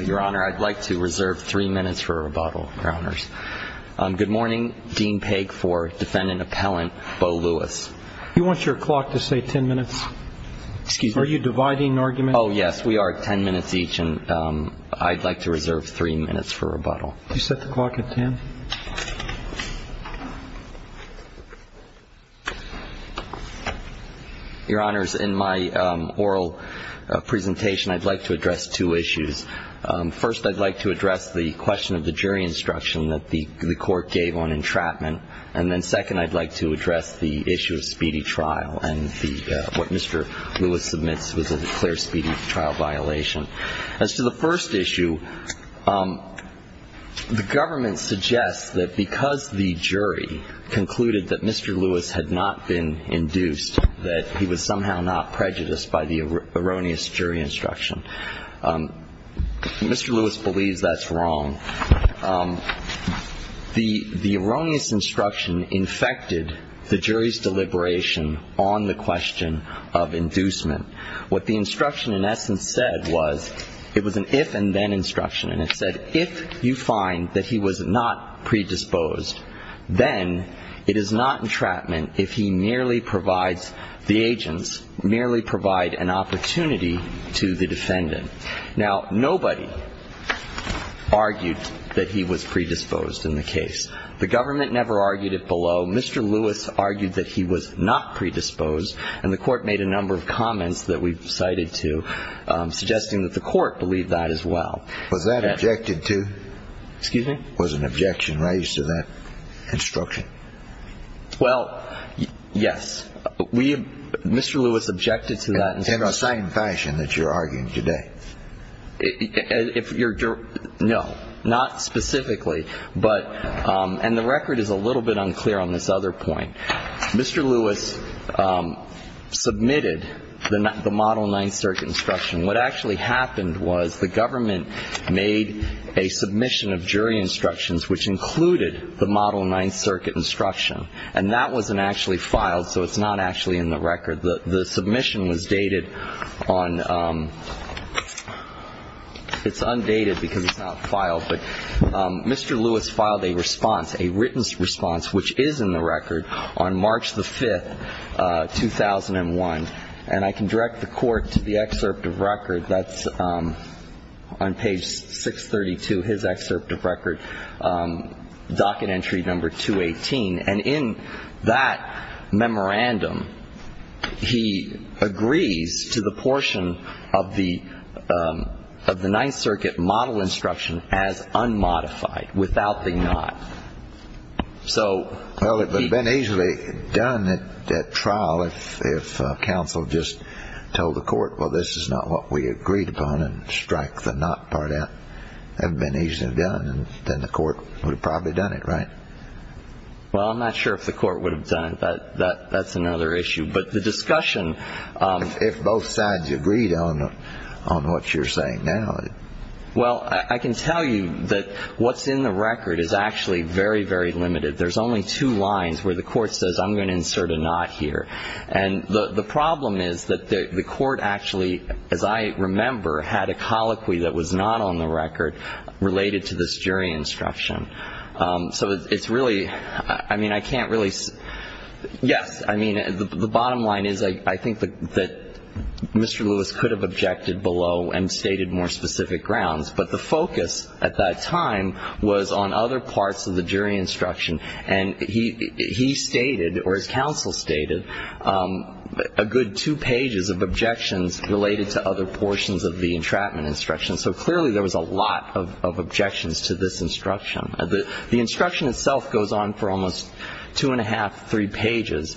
your honor I'd like to reserve three minutes for a rebuttal your honors good morning Dean Pegg for defendant appellant Bo Lewis you want your clock to say ten minutes excuse me are you dividing argument oh yes we are ten minutes each and I'd like to reserve three minutes for rebuttal you set the clock at ten your honors in my oral presentation I'd like to address two issues first I'd like to address the question of the jury instruction that the court gave on entrapment and then second I'd like to address the issue of speedy trial and the what mr. Lewis submits was a clear speedy trial violation as to the first issue the government suggests that because the jury concluded that mr. Lewis had not been induced that he was somehow not mr. Lewis believes that's wrong the the erroneous instruction infected the jury's deliberation on the question of inducement what the instruction in essence said was it was an if-and-then instruction and it said if you find that he was not predisposed then it is not entrapment if he merely provides the agents merely provide an opportunity to the defendant now nobody argued that he was predisposed in the case the government never argued it below mr. Lewis argued that he was not predisposed and the court made a number of comments that we've cited to suggesting that the court believed that as well was that mr. Lewis objected to that in the same fashion that you're arguing today if you're no not specifically but and the record is a little bit unclear on this other point mr. Lewis submitted the model 9th circuit instruction what actually happened was the government made a submission of jury instructions which included the model 9th circuit instruction and that wasn't actually filed so it's not actually in the record the submission was dated on it's undated because it's not filed but mr. Lewis filed a response a written response which is in the record on March the 5th 2001 and I can direct the court to the excerpt of record that's on page 632 his excerpt of record docket entry number 218 and in that memorandum he agrees to the portion of the of the 9th circuit model instruction as unmodified without the knot so well it would have been easily done at trial if counsel just told the court well this is not what we agreed upon and strike the knot part out and been easily done and then the court would have probably done it right well I'm not sure if the court would have done it but that that's another issue but the discussion if both sides agreed on on what you're saying now well I can tell you that what's in the record is actually very very limited there's only two lines where the court says I'm going to insert a knot here and the the problem is that the court actually as I remember had a colloquy that was not on the record related to this jury instruction so it's really I mean I can't really yes I mean the bottom line is I think that mr. Lewis could have objected below and stated more specific grounds but the focus at that time was on other parts of the jury instruction and he he stated or his counsel stated a good two pages of objections related to other portions of the entrapment instruction so clearly there was a lot of objections to this instruction the instruction itself goes on for almost two and a half three pages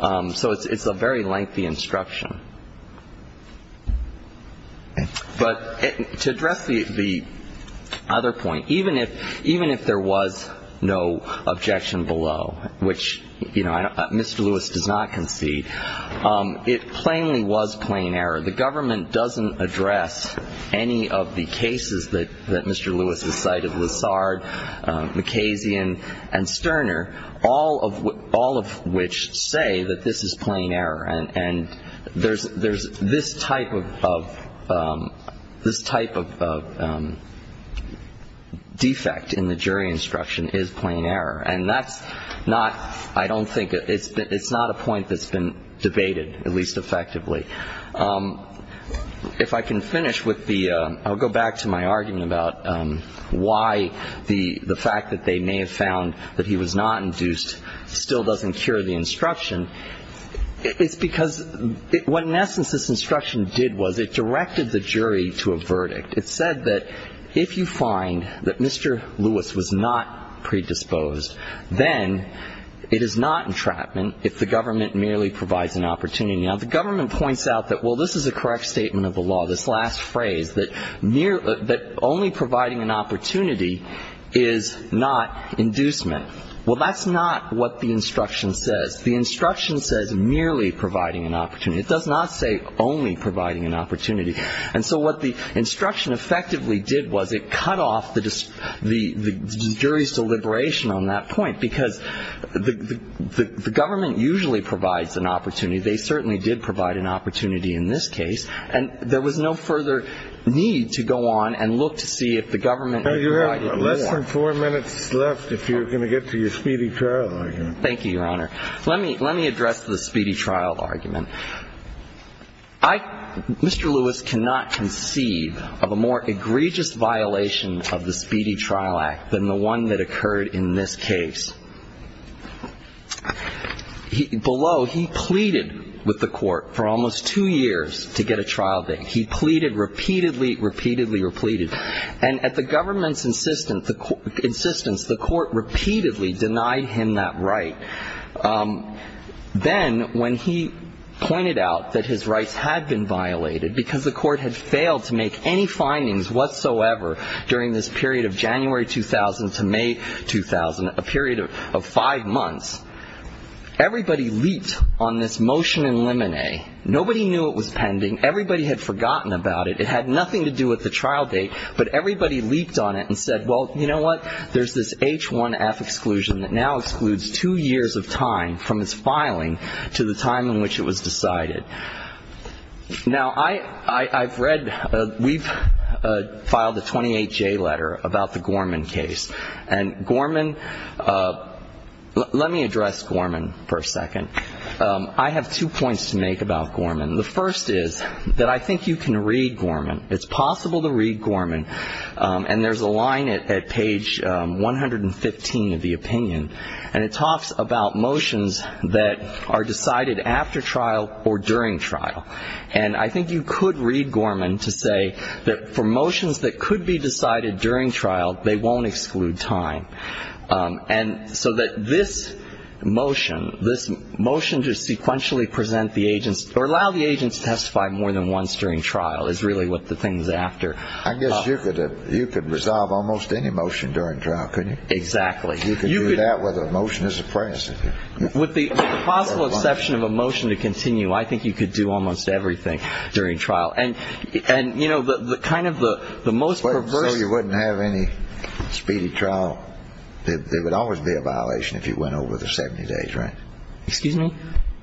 so it's a very lengthy instruction but to address the other point even if even if there was no objection below which you know mr. Lewis does not concede it plainly was plain error the government doesn't address any of the cases that that mr. Lewis has cited Lassard McKay's Ian and Sterner all of all of which say that this is plain error and and there's there's this type of this type of defect in the jury instruction is plain error and that's not I don't think it's that it's not a point that's debated at least effectively if I can finish with the I'll go back to my argument about why the the fact that they may have found that he was not induced still doesn't cure the instruction it's because what in essence this instruction did was it directed the jury to a verdict it said that if you find that mr. Lewis was not predisposed then it is not entrapment if the provides an opportunity now the government points out that well this is a correct statement of the law this last phrase that near that only providing an opportunity is not inducement well that's not what the instruction says the instruction says merely providing an opportunity it does not say only providing an opportunity and so what the instruction effectively did was it cut off the just the jury's deliberation on that point because the government usually provides an opportunity they certainly did provide an opportunity in this case and there was no further need to go on and look to see if the government four minutes left if you're gonna get to your speedy trial thank you your honor let me let me address the speedy trial argument I mr. Lewis cannot conceive of a more egregious violation of the speedy trial act than the one that occurred in this case below he pleaded with the court for almost two years to get a trial date he pleaded repeatedly repeatedly or pleaded and at the government's insistence the court repeatedly denied him that right then when he pointed out that his rights had been violated because the court had failed to make any findings whatsoever during this period of January 2000 to May 2000 a period of five months everybody leaped on this motion in lemonade nobody knew it was pending everybody had forgotten about it it had nothing to do with the trial date but everybody leaped on it and said well you know what there's this h1f exclusion that now excludes two years of time from his filing to the time in which it was decided now I I've read we've filed a motion and Gorman let me address Gorman for a second I have two points to make about Gorman the first is that I think you can read Gorman it's possible to read Gorman and there's a line it at page 115 of the opinion and it talks about motions that are decided after trial or during trial and I think you could read Gorman to say that for motions that could be decided during trial they won't exclude time and so that this motion this motion to sequentially present the agents or allow the agents to testify more than once during trial is really what the thing is after I guess you could have you could resolve almost any motion during trial couldn't exactly you could do that with a motion as a president with the possible exception of a motion to continue I think you could do almost everything during trial and and you know the kind of the the most you wouldn't have any speedy trial it would always be a violation if you went over the 70 days right excuse me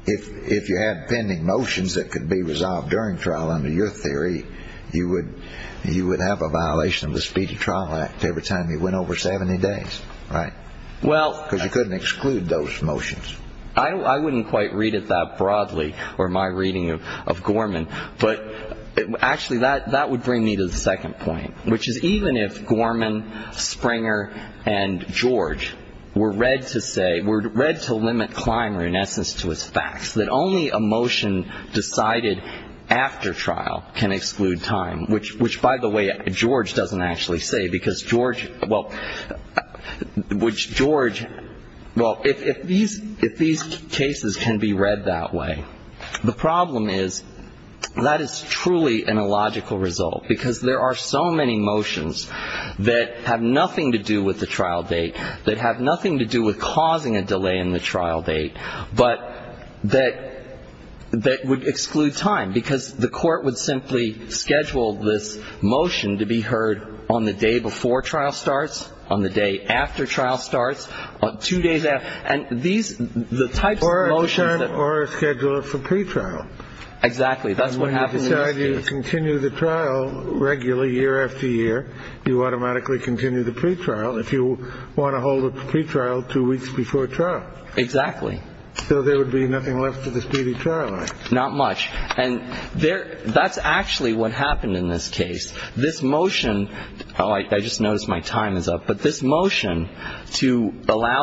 if if you had pending motions that could be resolved during trial under your theory you would you would have a violation of the speedy trial act every time you went over 70 days right well because you couldn't exclude those motions I wouldn't quite read it that broadly or my reading of Gorman but actually that that would bring me to the second point which is even if Gorman Springer and George were read to say we're read to limit climber in essence to his facts that only a motion decided after trial can exclude time which which by the way George doesn't actually say because George well which George well if these if these cases can be read that way the problem is that is truly an illogical result because there are so many motions that have nothing to do with the trial date that have nothing to do with causing a delay in the trial date but that that would exclude time because the court would simply schedule this motion to be heard on the day before trial starts on the day after trial starts on two days and these the type or a motion or a scheduler for pre-trial exactly that's what happens you continue the trial regularly year after year you automatically continue the pre-trial if you want to hold a pre-trial two weeks before trial exactly so there would be nothing left to the speedy trial not much and there that's actually what happened in this case this motion all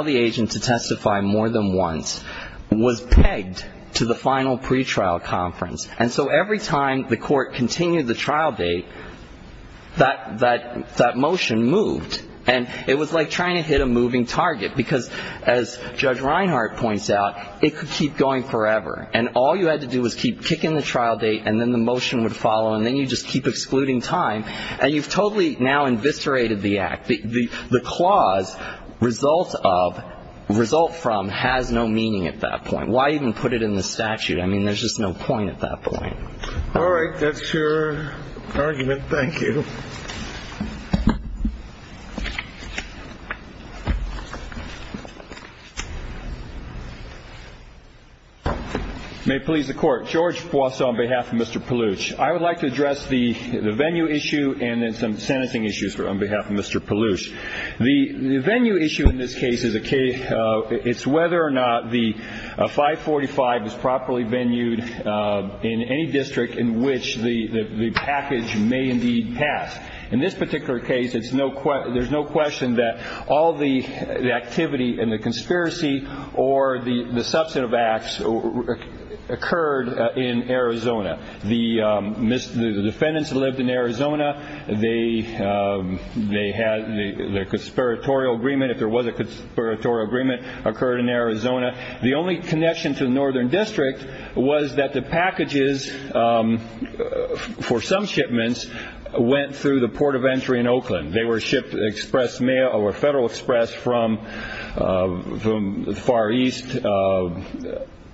the agent to testify more than once was pegged to the final pre-trial conference and so every time the court continued the trial date that that that motion moved and it was like trying to hit a moving target because as judge Reinhart points out it could keep going forever and all you had to do was keep kicking the trial date and then the motion would follow and then you just keep excluding time and you've totally now investigated the act the the clause result of result from has no meaning at that point why even put it in the statute I mean there's just no point at that point all right that's your argument thank you may please the court George boss on behalf of mr. Palooch I would like to issue and then some sentencing issues for on behalf of mr. Palooch the venue issue in this case is a case it's whether or not the 545 is properly venued in any district in which the the package may indeed pass in this particular case it's no question there's no question that all the activity in the conspiracy or the the substantive acts occurred in Arizona the miss the defendants lived in Arizona they they had the conspiratorial agreement if there was a conspiratorial agreement occurred in Arizona the only connection to the northern district was that the packages for some shipments went through the port of entry in Oakland they were shipped express mail or Federal Express from from the Far East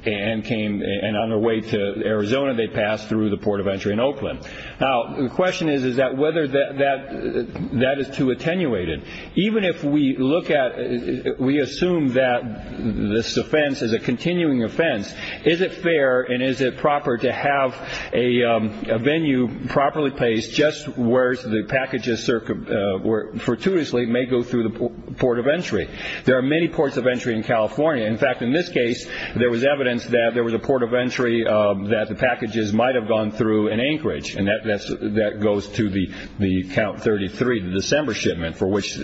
and came and on their way to Arizona they passed through the now the question is is that whether that that that is too attenuated even if we look at we assume that this offense is a continuing offense is it fair and is it proper to have a venue properly placed just where's the packages circuit where fortuitously may go through the port of entry there are many ports of entry in California in fact in this case there was evidence that there was a port of entry that the packages might have gone through in Anchorage and that's that goes to the the count thirty three December shipment for which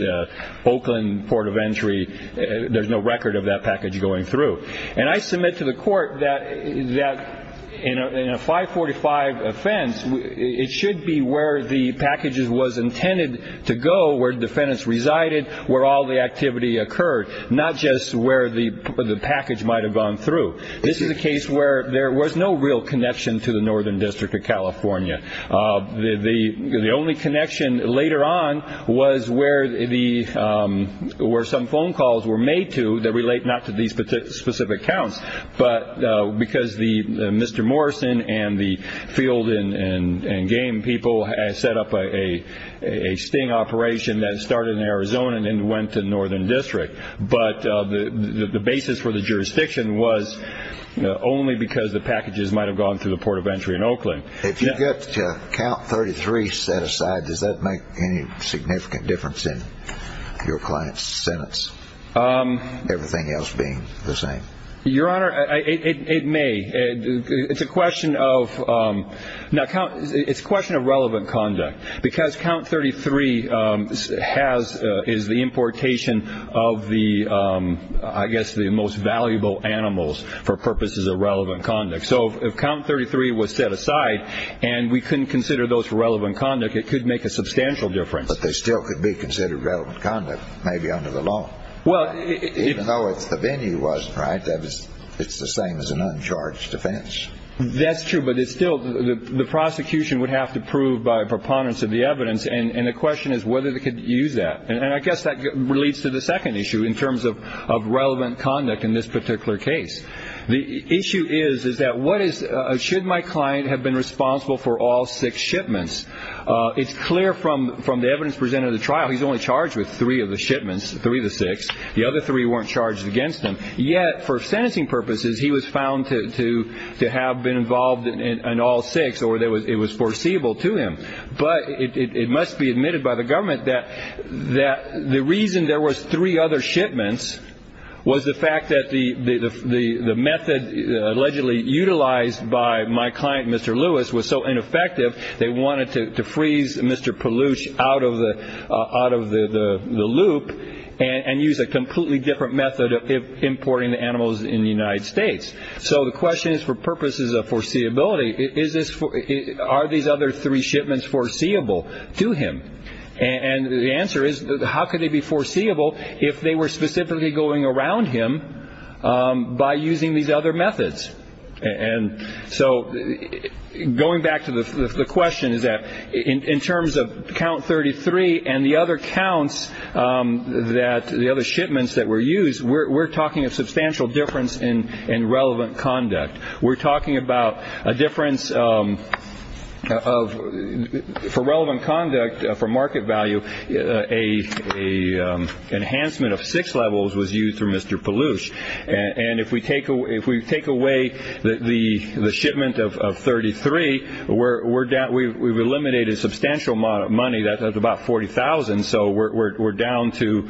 Oakland port of entry there's no record of that package going through and I submit to the court that is that in a 545 offense it should be where the packages was intended to go where defendants resided where all the activity occurred not just where the package might have gone through this is the case where there was no real connection to the northern district of the the only connection later on was where the where some phone calls were made to that relate not to these particular specific counts but because the mr. Morrison and the field in and game people has set up a a sting operation that started in Arizona and then went to the northern district but the the basis for the jurisdiction was only because the packages might have gone to the port of entry in Oakland if you get count 33 set aside does that make any significant difference in your client's sentence everything else being the same your honor it may it's a question of now count it's a question of relevant conduct because count 33 has is the importation of the I guess the most 33 was set aside and we can consider those relevant conduct it could make a substantial difference but they still could be considered relevant conduct maybe under the law well it's the venue was right that was it's the same as an uncharged offense that's true but it's still the the prosecution would have to prove by proponents of the evidence and and the question is whether they could use that and I guess that relates to the second issue in terms of of relevant conduct in this particular case the issue is is that what is should my client have been responsible for all six shipments it's clear from from the evidence presented the trial he's only charged with three of the shipments three the six the other three weren't charged against him yet for sentencing purposes he was found to to to have been involved in all six or there was it was foreseeable to him but it must be admitted by the government that that the reason there was three other shipments was the fact that the the method allegedly utilized by my client mr. Lewis was so ineffective they wanted to freeze mr. Palouche out of the out of the the loop and and use a completely different method of importing the animals in the United States so the question is for purposes of foreseeability is this for are these other three shipments foreseeable to him and the answer is how could they be foreseeable if they were specifically going around him by using these other methods and so going back to the question is that in terms of count 33 and the other counts that the other shipments that were used we're talking of substantial difference in and relevant conduct we're talking about a enhancement of six levels was used through mr. Palouche and and if we take away if we take away that the the shipment of 33 we're down we've eliminated substantial money that's about 40,000 so we're down to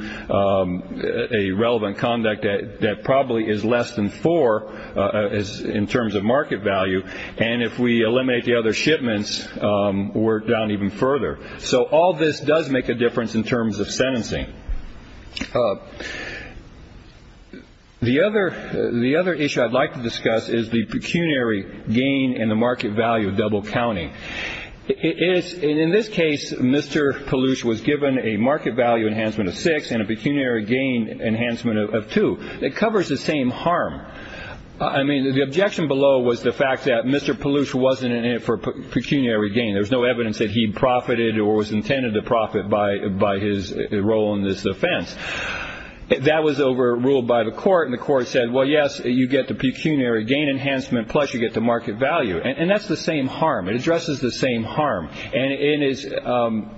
a relevant conduct that probably is less than four as in terms of market value and if we eliminate the other shipments we're down even further so all this does make a sentencing the other the other issue I'd like to discuss is the pecuniary gain and the market value of double counting it is in this case mr. Palouche was given a market value enhancement of six and a pecuniary gain enhancement of two it covers the same harm I mean the objection below was the fact that mr. Palouche wasn't in it for pecuniary gain there's no evidence that he profited or was intended to profit by by his role in this offense that was overruled by the court and the court said well yes you get the pecuniary gain enhancement plus you get the market value and that's the same harm it addresses the same harm and it is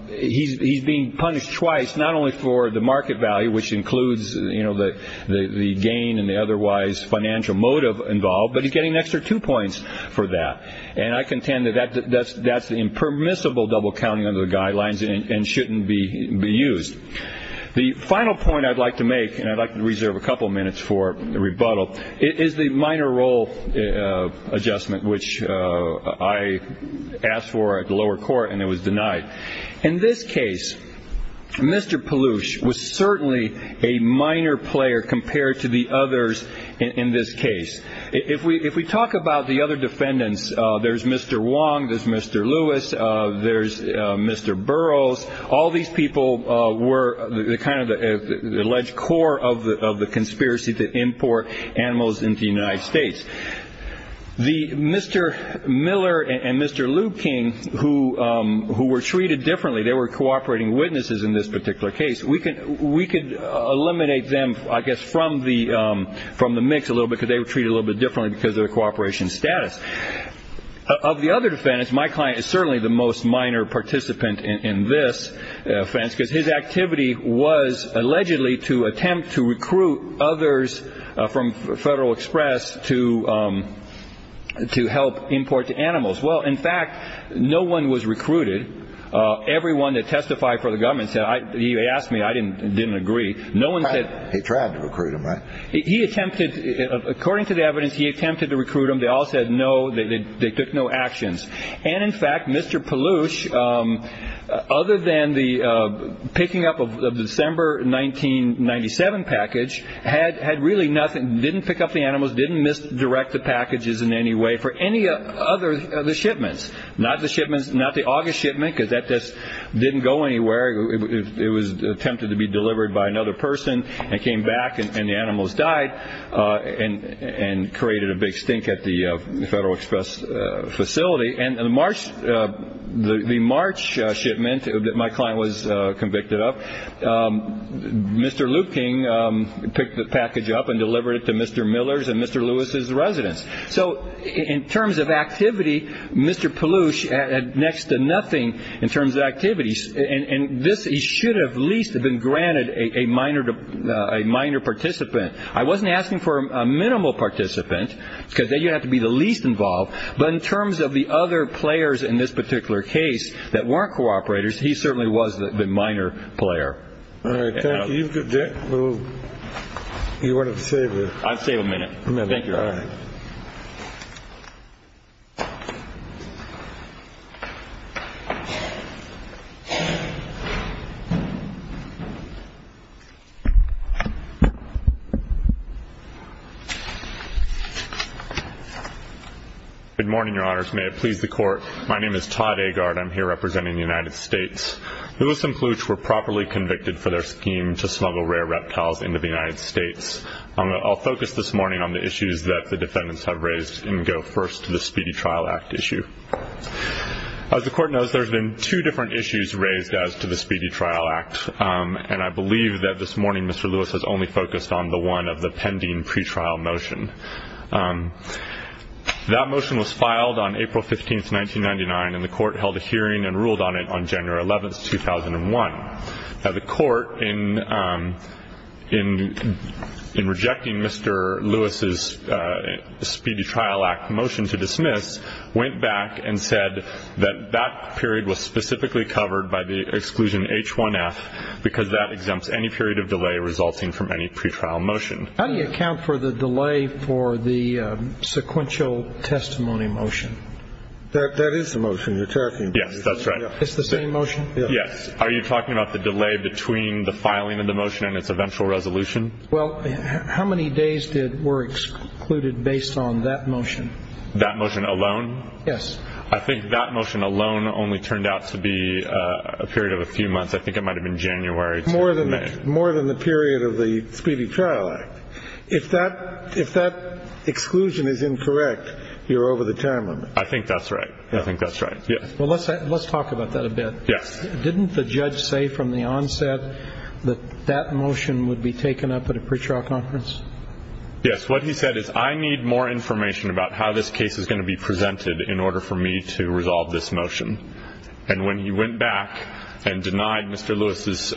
he's being punished twice not only for the market value which includes you know the the gain and the otherwise financial motive involved but he's getting an extra two points for that and I contend that that's that's the permissible double counting under the guidelines and shouldn't be be used the final point I'd like to make and I'd like to reserve a couple minutes for the rebuttal it is the minor role adjustment which I asked for at the lower court and it was denied in this case mr. Palouche was certainly a minor player compared to the others in this case if we if we talk about the other defendants there's mr. Wong there's mr. Lewis there's mr. Burroughs all these people were the kind of the alleged core of the conspiracy to import animals into the United States the mr. Miller and mr. Liu King who who were treated differently they were cooperating witnesses in this particular case we could we could eliminate them I guess from the from the mix a little because they were treated a little bit because of the cooperation status of the other defendants my client is certainly the most minor participant in this offense because his activity was allegedly to attempt to recruit others from Federal Express to to help import to animals well in fact no one was recruited everyone that testified for the government said I asked me I didn't didn't agree no one said he tried to evidence he attempted to recruit them they all said no they took no actions and in fact mr. Palouche other than the picking up of the December 1997 package had had really nothing didn't pick up the animals didn't miss direct the packages in any way for any other the shipments not the shipments not the August shipment because that this didn't go anywhere it was attempted to be created a big stink at the Federal Express facility and the March the March shipment that my client was convicted of mr. Liu King picked the package up and delivered it to mr. Miller's and mr. Lewis's residence so in terms of activity mr. Palouche had next to nothing in terms of activities and this he should have least have been granted a minor to a minor participant I wasn't asking for a minimal participant because then you have to be the least involved but in terms of the other players in this particular case that weren't cooperators he certainly was the minor player you wanted to say I'd say a good morning your honors may it please the court my name is Todd a guard I'm here representing the United States Lewis and Palouche were properly convicted for their scheme to smuggle rare reptiles into the United States I'll focus this morning on the issues that the defendants have raised and go first to the Speedy Trial Act issue as the court knows there's been two different issues raised as to the Speedy Trial Act and I believe that this of the pending pretrial motion that motion was filed on April 15th 1999 and the court held a hearing and ruled on it on January 11th 2001 now the court in in in rejecting mr. Lewis's Speedy Trial Act motion to dismiss went back and said that that period was specifically covered by the exclusion h1f because that exempts any period of delay resulting from any pretrial motion how do you account for the delay for the sequential testimony motion that that is the motion you're talking yes that's right it's the same motion yes are you talking about the delay between the filing of the motion and its eventual resolution well how many days did were excluded based on that motion that motion alone yes I think that motion alone only turned out to be a period of January more than that more than the period of the Speedy Trial Act if that if that exclusion is incorrect you're over the time limit I think that's right I think that's right yes well let's say let's talk about that a bit yes didn't the judge say from the onset that that motion would be taken up at a pretrial conference yes what he said is I need more information about how this case is going to be presented in order for me to resolve this motion and when he went back and denied mr. Lewis's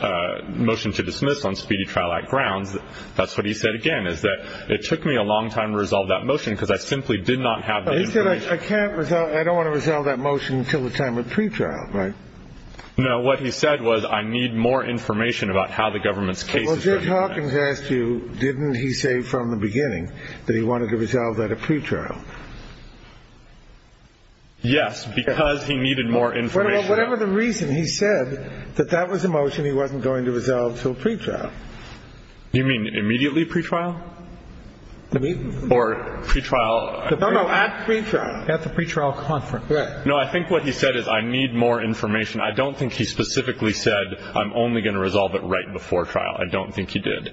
motion to dismiss on Speedy Trial Act grounds that's what he said again is that it took me a long time to resolve that motion because I simply did not have I can't resolve I don't want to resolve that motion until the time of pretrial right no what he said was I need more information about how the government's case did Hawkins asked you didn't he say from the beginning that he wanted to resolve that a pretrial yes because he said that that was a motion he wasn't going to resolve till pretrial you mean immediately pretrial or pretrial at the pretrial at the pretrial conference right no I think what he said is I need more information I don't think he specifically said I'm only going to resolve it right before trial I don't think he did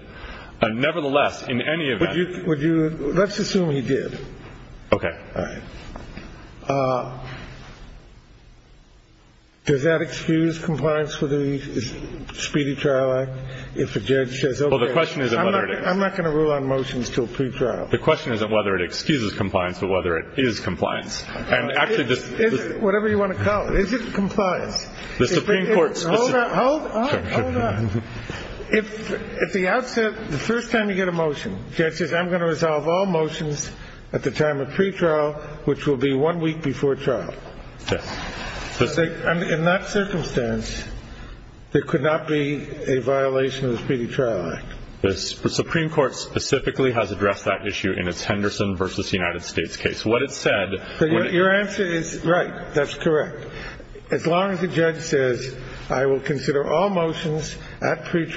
and nevertheless in any of you would you let's assume he did okay does that excuse compliance with the Speedy Trial Act if the judge says oh the question is I'm not going to rule on motions to a pretrial the question isn't whether it excuses compliance but whether it is compliance and actually this is whatever you want to call it is it compliance the Supreme Court if at the outset the first time you get a motion judges I'm going to resolve all which will be one week before trial in that circumstance there could not be a violation of the Speedy Trial Act the Supreme Court specifically has addressed that issue in its Henderson versus United States case what it said your answer is right that's correct as long as the judge says I will consider all violation the Speedy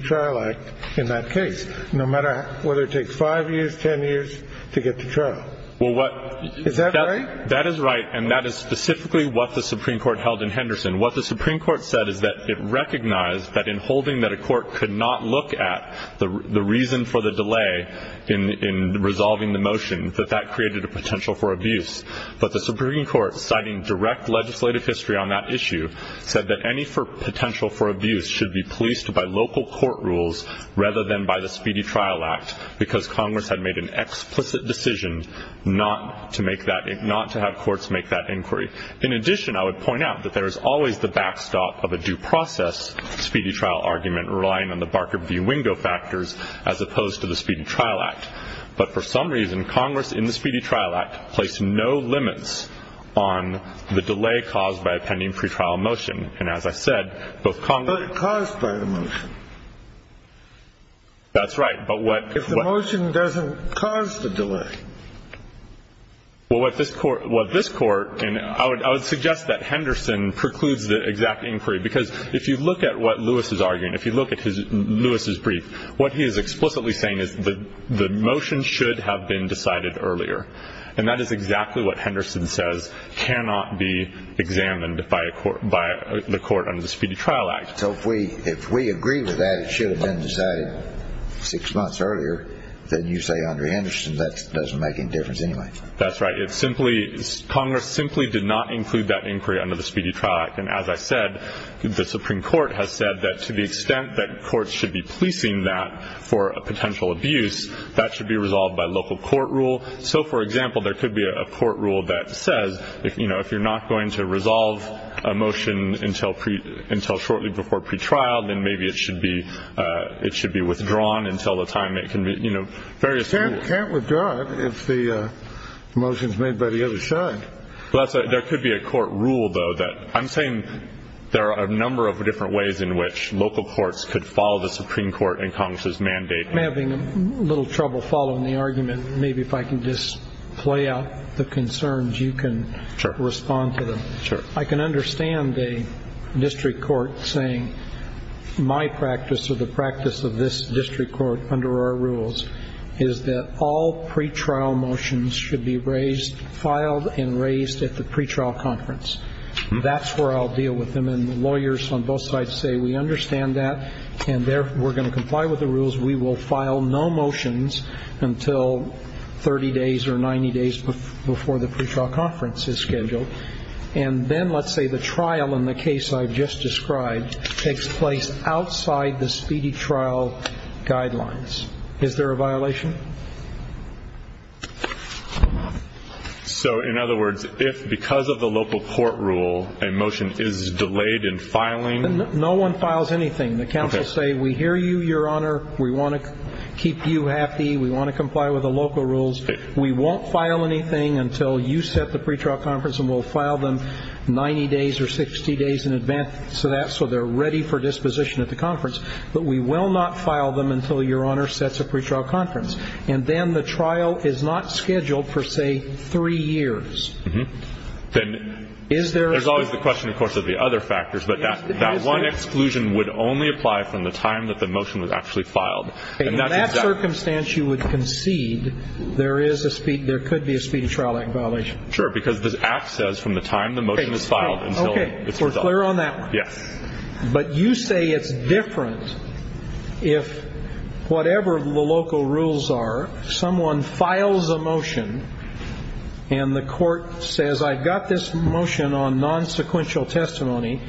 Trial Act in that case no matter whether it takes five years ten years to get to trial well what is that right that is right and that is specifically what the Supreme Court held in Henderson what the Supreme Court said is that it recognized that in holding that a court could not look at the reason for the delay in resolving the motion that that created a potential for abuse but the Supreme Court citing direct legislative history on that issue said that any for potential for abuse should be policed by local court rules rather than by the Speedy Trial Act because Congress had made an explicit decision not to make that it not to have courts make that inquiry in addition I would point out that there is always the backstop of a due process Speedy Trial argument relying on the Barker v. Wingo factors as opposed to the Speedy Trial Act but for some reason Congress in the Speedy Trial Act placed no limits on the motion and as I said both Congress caused by the motion that's right but what if the motion doesn't cause the delay well what this court what this court and I would suggest that Henderson precludes the exact inquiry because if you look at what Lewis is arguing if you look at his Lewis's brief what he is explicitly saying is the the motion should have been decided earlier and that is exactly what Henderson says cannot be examined by a court by the court on the Speedy Trial Act so if we if we agree with that it should have been decided six months earlier then you say under Henderson that doesn't make any difference anyway that's right it's simply Congress simply did not include that inquiry under the Speedy Trial Act and as I said the Supreme Court has said that to the extent that courts should be policing that for a potential abuse that should be resolved by local court rule so for example there could be a court rule that says if you know if you're not going to resolve a motion until pre until shortly before pretrial then maybe it should be it should be withdrawn until the time it can be you know various can't withdraw if the motions made by the other side well that's right there could be a court rule though that I'm saying there are a number of different ways in which local courts could follow the Supreme Court and Congress's mandate having a little trouble following the argument maybe if I can just play out the concerns you can respond to them I can understand a district court saying my practice of the practice of this district court under our rules is that all pretrial motions should be raised filed and raised at the pretrial conference that's where I'll deal with them and lawyers on both sides say we understand that and there we're going to comply with the rules we will file no motions until 30 days or 90 days before the pretrial conference is scheduled and then let's say the trial in the case I've just described takes place outside the speedy trial guidelines is there a violation so in other words if because of the local court rule a motion is delayed in filing no one files anything the council say we hear you your honor we want to keep you happy we want to comply with the local rules we won't file anything until you set the pretrial conference will file them 90 days or 60 days in advance so that so they're ready for disposition at the conference but we will not file them until your honor sets a pretrial conference and then the trial is not scheduled for say three years then is there is always the question of course of the other factors but that that one exclusion would only apply from the time that the motion was actually filed and that circumstance you would concede there is a speed there could be a speedy trial act violation sure because this act says from the time the motion is filed okay we're clear on that yes but you say it's different if whatever the local rules are someone files a motion and the court says I got this motion on non-sequential testimony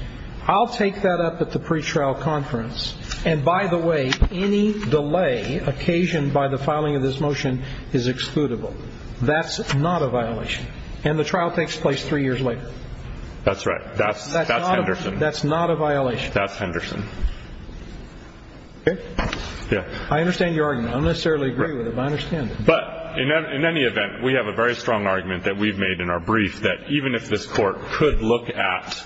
I'll take that up at the pretrial conference and by the way any delay occasioned by the filing of this motion is excludable that's not a violation and the trial takes place three years later that's right that's that's Henderson that's not a violation that's Henderson okay yeah I understand your argument I don't necessarily agree with him I understand but in any event we have a very strong argument that we've made in our brief that even if this court could look at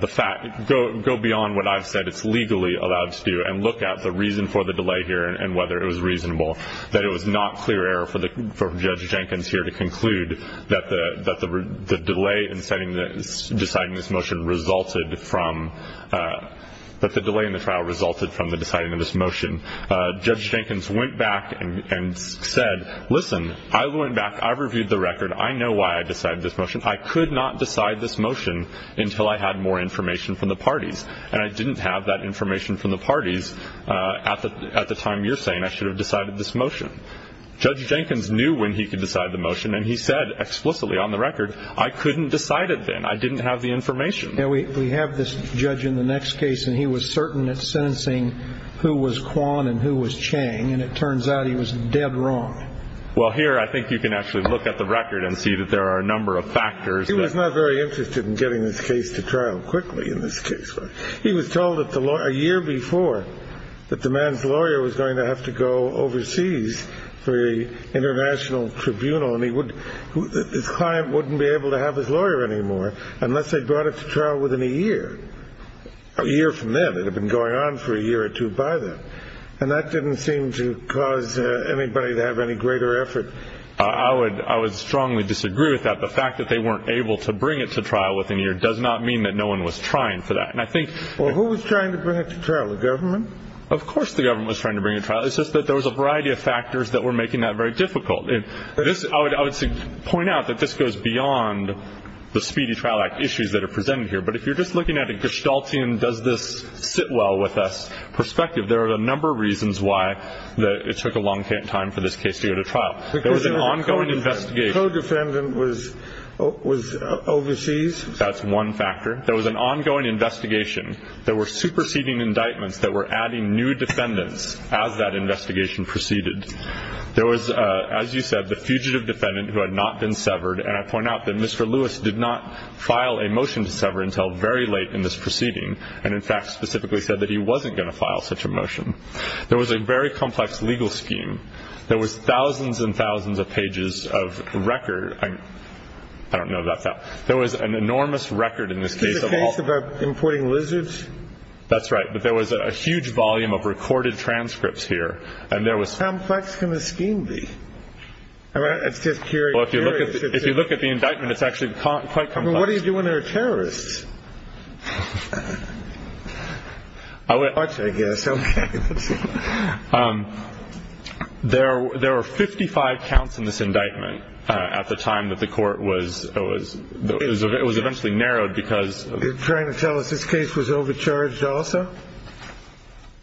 the fact go go beyond what I've said it's legally allowed to do and look at the reason for the delay here and whether it was reasonable that it was not clear error for the judge Jenkins here to conclude that the that the delay in setting the deciding this motion resulted from that the delay in the trial resulted from the deciding of this motion judge Jenkins went back and said listen I went back I've reviewed the record I know why I decided this motion I could not decide this motion until I had more information from the parties and I didn't have that information from the parties at the at the time you're saying I should have decided this motion judge Jenkins knew when he could decide the motion and he said explicitly on the record I couldn't decide it then I didn't have the information we have this judge in the next case and he was certain that sentencing who was Quan and who was Chang and it turns out he was dead wrong well here I think you can actually look at the record and see that there are a number of factors it was not very interested in getting this case to trial quickly in this case he was told that the law a year before that the man's to go overseas for a international tribunal and he would his client wouldn't be able to have his lawyer anymore unless they brought it to trial within a year a year from then it had been going on for a year or two by them and that didn't seem to cause anybody to have any greater effort I would I was strongly disagree with that the fact that they weren't able to bring it to trial within a year does not mean that no one was trying for that and I think well who was trying to bring it to trial the government of course the government was trying to bring a trial it's just that there was a variety of factors that were making that very difficult if this I would I would point out that this goes beyond the speedy trial act issues that are presented here but if you're just looking at a gestalt Ian does this sit well with us perspective there are a number of reasons why that it took a long time for this case to go to trial there was an ongoing investigation defendant was overseas that's one factor there was an ongoing investigation there were superseding indictments that were as that investigation proceeded there was as you said the fugitive defendant who had not been severed and I point out that mr. Lewis did not file a motion to sever until very late in this proceeding and in fact specifically said that he wasn't going to file such a motion there was a very complex legal scheme there was thousands and thousands of pages of record I don't know about that there was an enormous record in this case about importing lizards that's right but there was a huge volume of recorded transcripts here and there was how complex can the scheme be all right it's just curious if you look at the indictment it's actually caught quite come what do you do when there are terrorists I would watch I guess okay there there were 55 counts in this indictment at the time that the court was it was it was eventually narrowed trying to tell us this case was overcharged also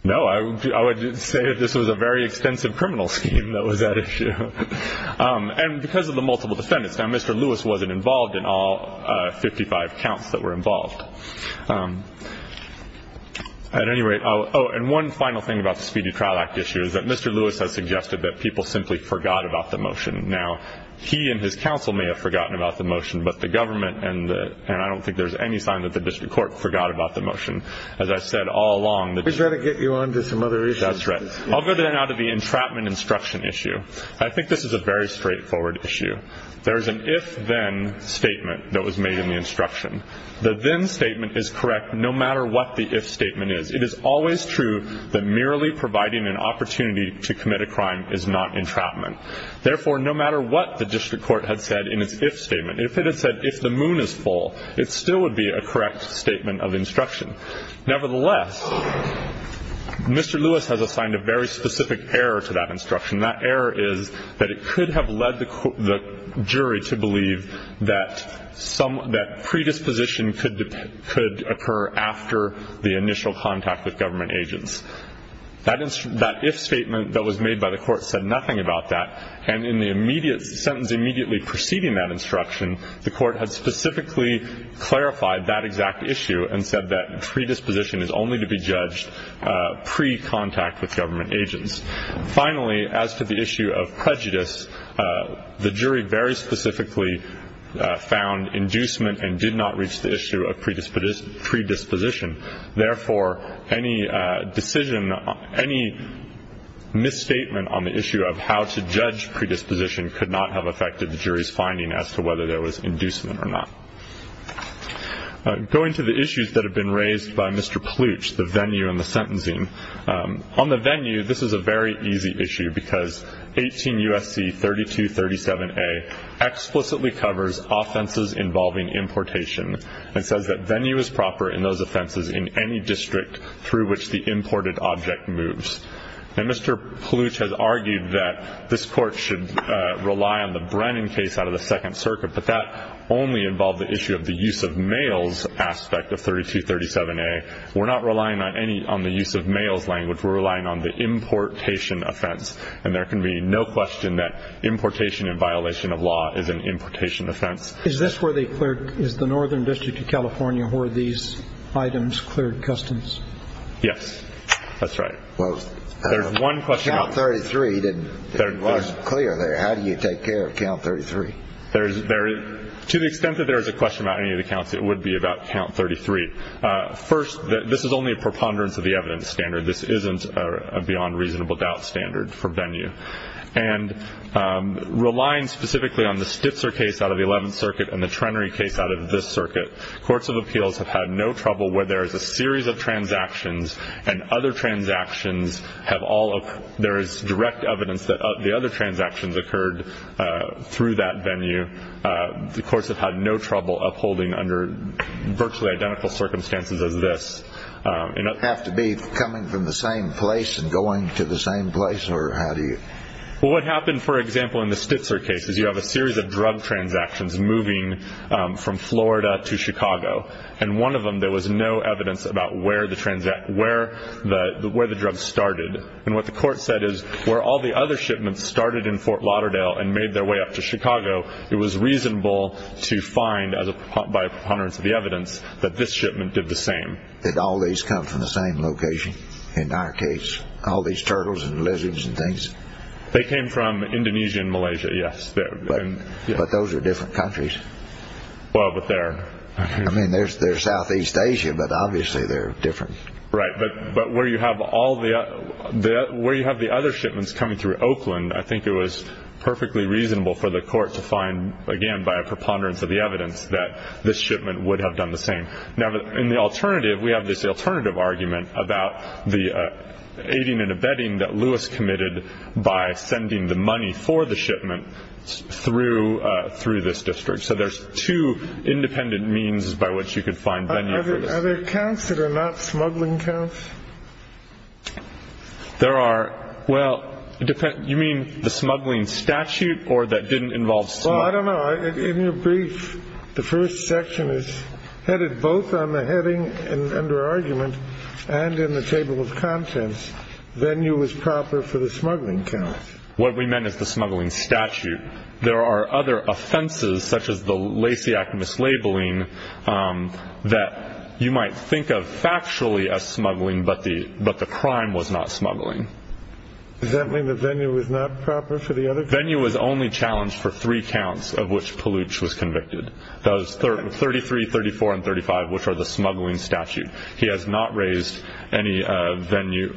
no I would say this was a very extensive criminal scheme that was that issue and because of the multiple defendants now mr. Lewis wasn't involved in all 55 counts that were involved at any rate oh and one final thing about the speedy trial act issues that mr. Lewis has suggested that people simply forgot about the motion now he and his counsel may have forgotten about the motion but the government and and I any sign that the district court forgot about the motion as I said all along that's right I'll go there now to the entrapment instruction issue I think this is a very straightforward issue there is an if-then statement that was made in the instruction the then statement is correct no matter what the if statement is it is always true that merely providing an opportunity to commit a crime is not entrapment therefore no matter what the district court had said in its if statement if it had said if the moon is full it still would be a correct statement of instruction nevertheless mr. Lewis has assigned a very specific error to that instruction that error is that it could have led the jury to believe that some that predisposition could could occur after the initial contact with government agents that is that if statement that was made by the court said nothing about that and in the immediate sentence immediately preceding that instruction the court had specifically clarified that exact issue and said that predisposition is only to be judged pre-contact with government agents finally as to the issue of prejudice the jury very specifically found inducement and did not reach the issue of predisposition therefore any decision any misstatement on the issue of how to judge predisposition could not have affected the jury's finding as to whether there was inducement or not going to the issues that have been raised by mr. pooch the venue in the sentencing on the venue this is a very easy issue because 18 USC 32 37 a explicitly covers offenses involving importation and says that venue is proper in those offenses in any district through which the imported object moves and mr. pooch has argued that this court should rely on the Brennan case out of the second circuit but that only involved the issue of the use of males aspect of 32 37 a we're not relying on any on the use of males language were relying on the importation offense and there can be no question that importation in violation of law is an importation offense is this where they cleared is the northern district of california where these items yes that's right well there's one question 33 didn't clear there how do you take care of count 33 there's very to the extent that there is a question about any of the counts it would be about count 33 first that this is only a preponderance of the evidence standard this isn't a beyond reasonable doubt standard for venue and relying specifically on the stitzer case out of the 11th circuit and the trenary case out of this circuit courts of appeals have had no trouble where there is a series of transactions and other transactions have all of there is direct evidence that the other transactions occurred through that venue the courts have had no trouble upholding under virtually identical circumstances as this you know have to be coming from the same place and going to the same place or how do you what happened for example in the stitzer case is you have a series of drug transactions moving from Florida to Chicago and one of them there was no evidence about where the transact where the where the drug started and what the court said is where all the other shipments started in Fort Lauderdale and made their way up to Chicago it was reasonable to find as a by preponderance of the evidence that this shipment did the same that all these come from the same location in our case all these turtles and lizards and things they came from Indonesia and Malaysia yes there but those are different countries well but there I mean there's their Southeast Asia but obviously they're different right but but where you have all the where you have the other shipments coming through Oakland I think it was perfectly reasonable for the court to find again by a preponderance of the evidence that this shipment would have done the same now in the alternative we have this alternative argument about the aiding and abetting that Lewis committed by sending the money for the shipment through through this district so there's two independent means by which you could find other accounts that are not smuggling counts there are well depend you mean the smuggling statute or that didn't involve so I don't know in your brief the first section is headed both on the heading and under argument and in the table of then you was proper for the smuggling count what we meant is the smuggling statute there are other offenses such as the Lacey act mislabeling that you might think of factually a smuggling but the but the crime was not smuggling is that mean the venue was not proper for the other venue was only challenged for three counts of which pollutes was convicted those third 33 34 and 35 which has not raised any venue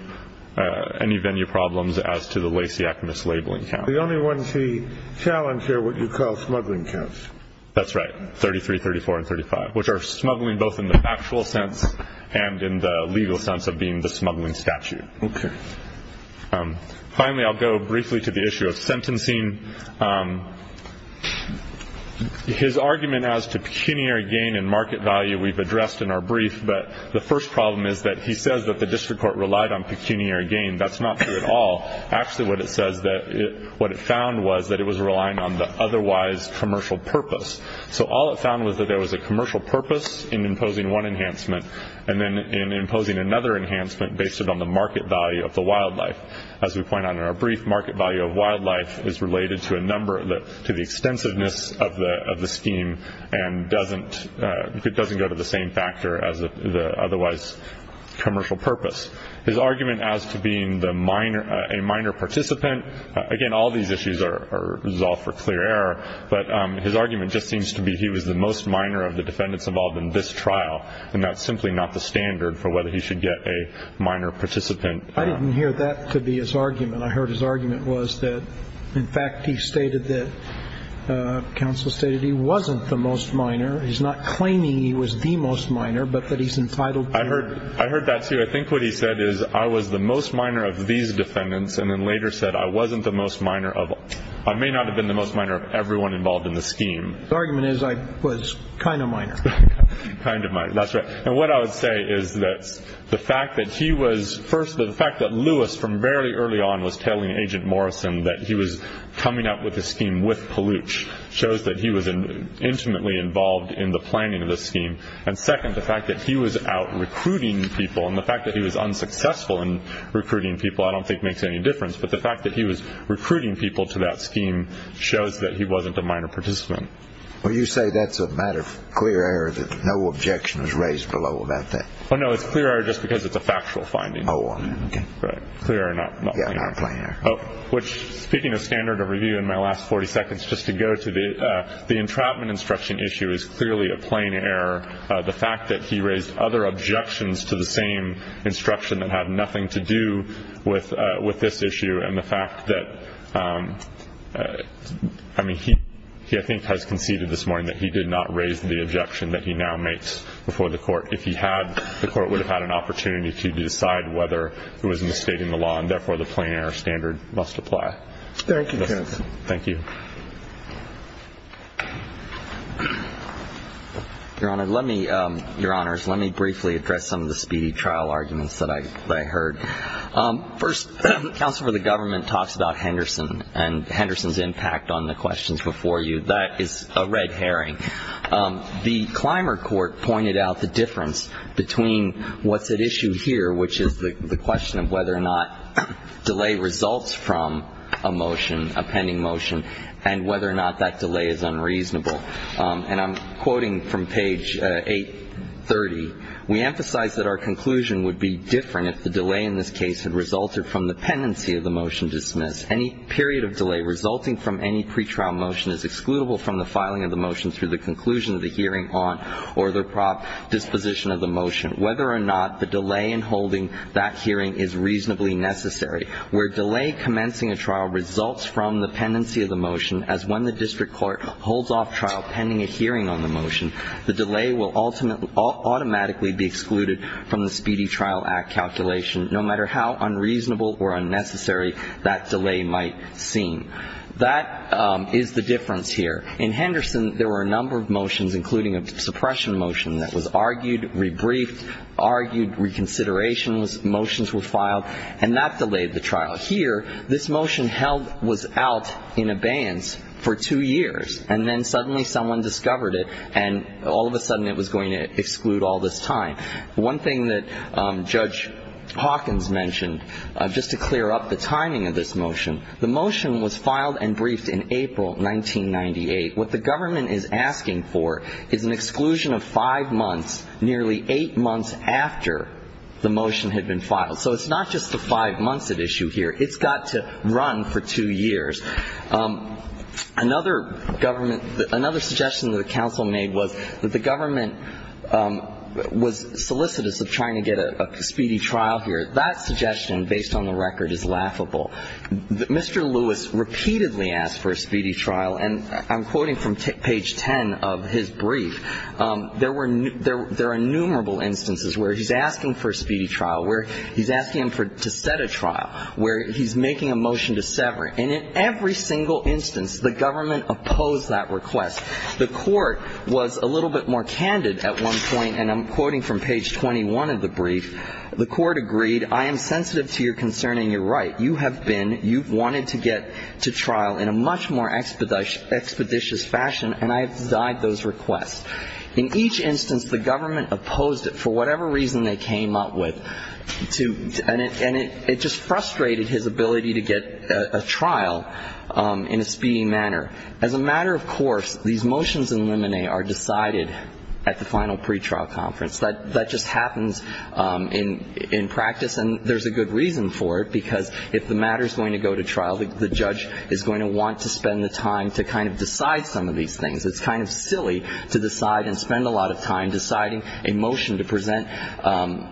any venue problems as to the Lacey act mislabeling the only ones he challenged here what you call smuggling counts that's right 33 34 and 35 which are smuggling both in the factual sense and in the legal sense of being the smuggling statute okay finally I'll go briefly to the issue of sentencing his argument as to pecuniary gain in market value we've addressed in our brief but the first problem is that he says that the district court relied on pecuniary gain that's not true at all actually what it says that it what it found was that it was relying on the otherwise commercial purpose so all it found was that there was a commercial purpose in imposing one enhancement and then in imposing another enhancement based it on the market value of the wildlife as we point out in our brief market value of wildlife is related to a number that to the extensiveness of the of the scheme and doesn't it doesn't go to the same factor as the otherwise commercial purpose his argument as to being the minor a minor participant again all these issues are resolved for clear error but his argument just seems to be he was the most minor of the defendants involved in this trial and that's simply not the standard for whether he should get a minor participant I didn't hear that could be his argument I heard his argument was that in fact he stated that counsel stated he wasn't the most minor he's not claiming he was the most minor but that he's entitled I heard I heard that too I think what he said is I was the most minor of these defendants and then later said I wasn't the most minor of I may not have been the most minor of everyone involved in the scheme the argument is I was kind of minor kind of my that's right and what I would say is that the fact that he was first the fact that Lewis from very early on was telling agent Morrison that he was coming up with a scheme with Palooch shows that he was an intimately involved in the planning of the scheme and second the fact that he was out recruiting people and the fact that he was unsuccessful in recruiting people I don't think makes any difference but the fact that he was recruiting people to that scheme shows that he wasn't a minor participant well you say that's a matter of clear air that no objection was raised below about that oh no it's clear just because it's a factual finding oh okay clear enough yeah I'm playing oh which speaking of standard of review in my last 40 seconds just to go to the the entrapment instruction issue is clearly a plain error the fact that he raised other objections to the same instruction that had nothing to do with with this issue and the fact that I mean he he I think has conceded this morning that he did not raise the objection that he now makes before the court if he had the court would have had an opportunity to decide whether it was in the state in the law and therefore the player standard must apply thank you thank you your honor let me your honors let me briefly address some of the speedy trial arguments that I heard first counsel for the government talks about Henderson and Henderson's impact on the questions before you that is a red herring the climber court pointed out the difference between what's at issue here which is the question of whether or not delay results from a motion a pending motion and whether or not that delay is unreasonable and I'm quoting from page 830 we emphasize that our conclusion would be different if the delay in this case had resulted from the pendency of the motion dismissed any period of delay resulting from any pretrial motion is excludable from the filing of the motion through the conclusion of the hearing on or the prop disposition of the motion whether or not the delay in holding that hearing is reasonably necessary where delay commencing a trial results from the pendency of the motion as when the district court holds off trial pending a hearing on the motion the delay will ultimately automatically be excluded from the speedy trial act calculation no matter how unreasonable or unnecessary that delay might seem that is the difference here in Henderson there were a number of motions including a suppression motion that was argued rebriefed argued reconsideration was motions were filed and that delayed the trial here this motion held was out in abeyance for two years and then suddenly someone discovered it and all of a sudden it was going to exclude all this time one thing that judge Hawkins mentioned just to clear up the timing of this motion the motion was filed and is an exclusion of five months nearly eight months after the motion had been filed so it's not just the five months at issue here it's got to run for two years another government another suggestion the council made was that the government was solicitous of trying to get a speedy trial here that suggestion based on the record is laughable that Mr. Lewis repeatedly asked for a speedy trial where he's asking him to set a trial where he's making a motion to sever it and in every single instance the government opposed that request the court was a little bit more candid at one point and I'm quoting from page 21 of the brief the court agreed I am sensitive to your concern and you're right you have been you've wanted to get to trial in a much more expeditious fashion and I've requested in each instance the government opposed it for whatever reason they came up with to and it and it just frustrated his ability to get a trial in a speedy manner as a matter of course these motions in limine are decided at the final pretrial conference that that just happens in in practice and there's a good reason for it because if the matter is going to go to trial the judge is going to want to spend the time to kind of decide some of these things it's kind of silly to decide and spend a lot of time deciding a motion to present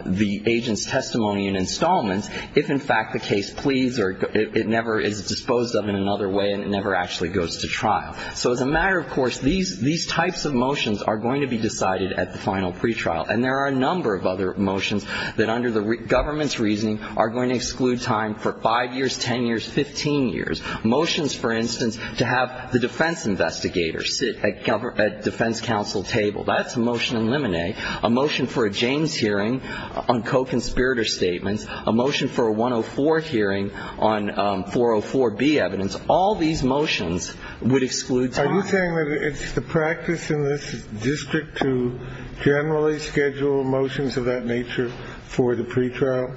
the agent's testimony and installments if in fact the case please or it never is disposed of in another way and it never actually goes to trial so as a matter of course these these types of motions are going to be decided at the final pretrial and there are a number of other motions that under the government's reasoning are going to exclude time for five years ten years fifteen years motions for instance to have the defense investigators sit at defense counsel table that's a motion in limine a motion for a james hearing on co-conspirator statements a motion for a 104 hearing on 404b evidence all these motions would exclude time are you saying that it's the practice in this district to generally schedule motions of that nature for the pretrial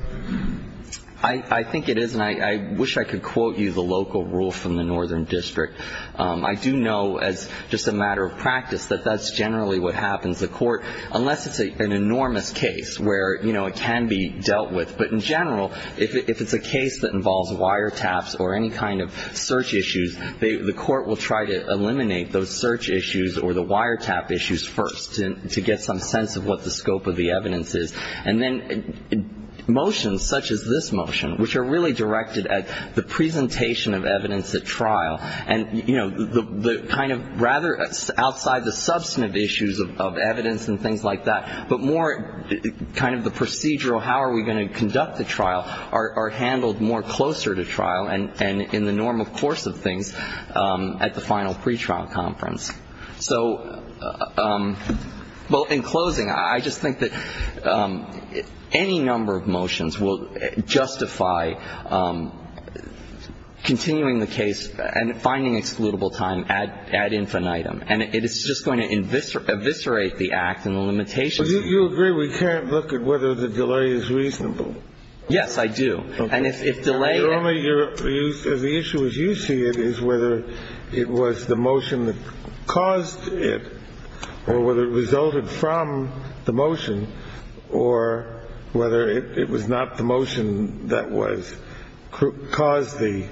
i i think it is and i i wish i could quote you the local rule from the northern district i do know as just a matter of practice that that's generally what happens the court unless it's a an enormous case where you know it can be dealt with but in general if it's a case that involves wiretaps or any kind of search issues the court will try to eliminate those search issues or the wiretap issues first to get some sense of what the scope of the evidence is and then in motions such as this motion which are really directed at the presentation of evidence at trial and you know the the kind of rather outside the substantive issues of evidence and things like that but more kind of the procedural how are we going to conduct the trial are handled more closer to trial and and in the normal course of things at the final pretrial conference so well in closing i just think that any number of motions will justify continuing the case and finding excludable time at ad infinitum and it is just going to inviscerate eviscerate the act and the limitation you agree we can't look at whether the delay is reasonable yes i do and if delay only your use of the issue as you see it is whether it was the motion that caused it or whether it resulted from the motion or whether it was not the motion that was caused the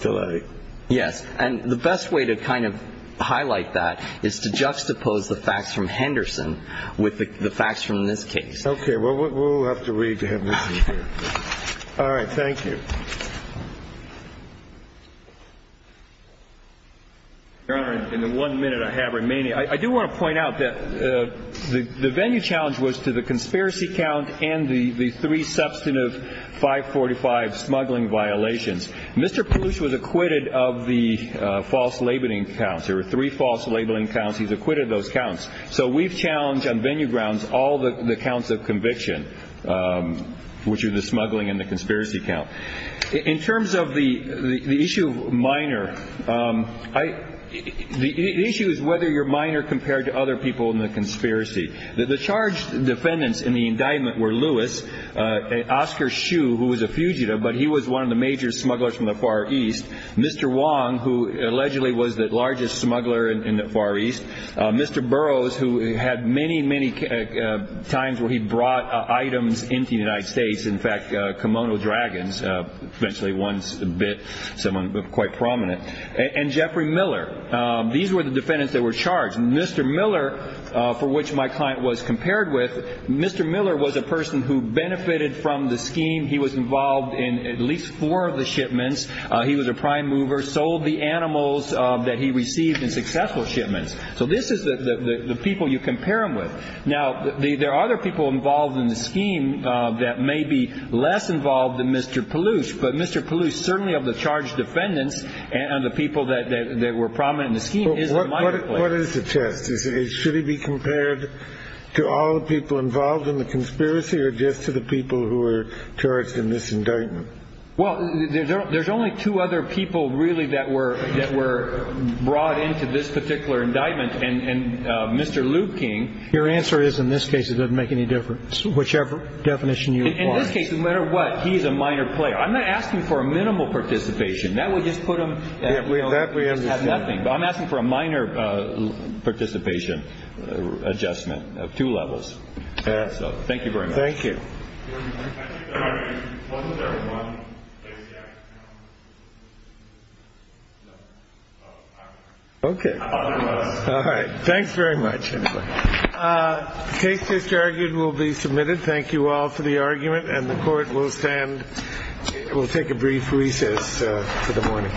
delay yes and the best way to kind of highlight that is to juxtapose the facts from Henderson with the facts from this case okay well we'll have to read to him all right thank you in the one minute I have remaining I do want to point out that the venue challenge was to the conspiracy count and the the three substantive 545 smuggling violations mr. pooch was acquitted of the false labeling counts or three false labeling counts he's acquitted those counts so we've challenged on venue grounds all the accounts of conviction which is the issue minor I the issue is whether your minor compared to other people in the conspiracy that the charge defendants in the indictment were Lewis and Oscar shoe who was a fugitive but he was one of the major smugglers from the Far East mr. Wong who allegedly was the largest smuggler in the Far East mr. Burroughs who had many many times where he brought items into the United States in fact kimono dragons eventually once a bit someone quite prominent and Jeffrey Miller these were the defendants that were charged mr. Miller for which my client was compared with mr. Miller was a person who benefited from the scheme he was involved in at least four of the shipments he was a prime mover sold the animals that he received in successful shipments so this is the people you compare him with now there are other people involved in the scheme that may be less involved than mr. Palouse but mr. Palouse certainly of the charge defendants and the people that they were prominent in the scheme is what is the test is it should he be compared to all the people involved in the conspiracy or just to the people who were charged in this indictment well there's only two other people really that were that were brought into this particular indictment and mr. Liu King your answer is in this case it doesn't make any difference whichever definition you in this case no matter what he's a minor player I'm not asking for a minimal participation that would just put them that way that we have nothing but I'm asking for a minor participation adjustment of two levels so thank you very much thank you okay all right thanks very much case disargued will be submitted thank you all for the argument and the court will stand we'll take a brief recess for the morning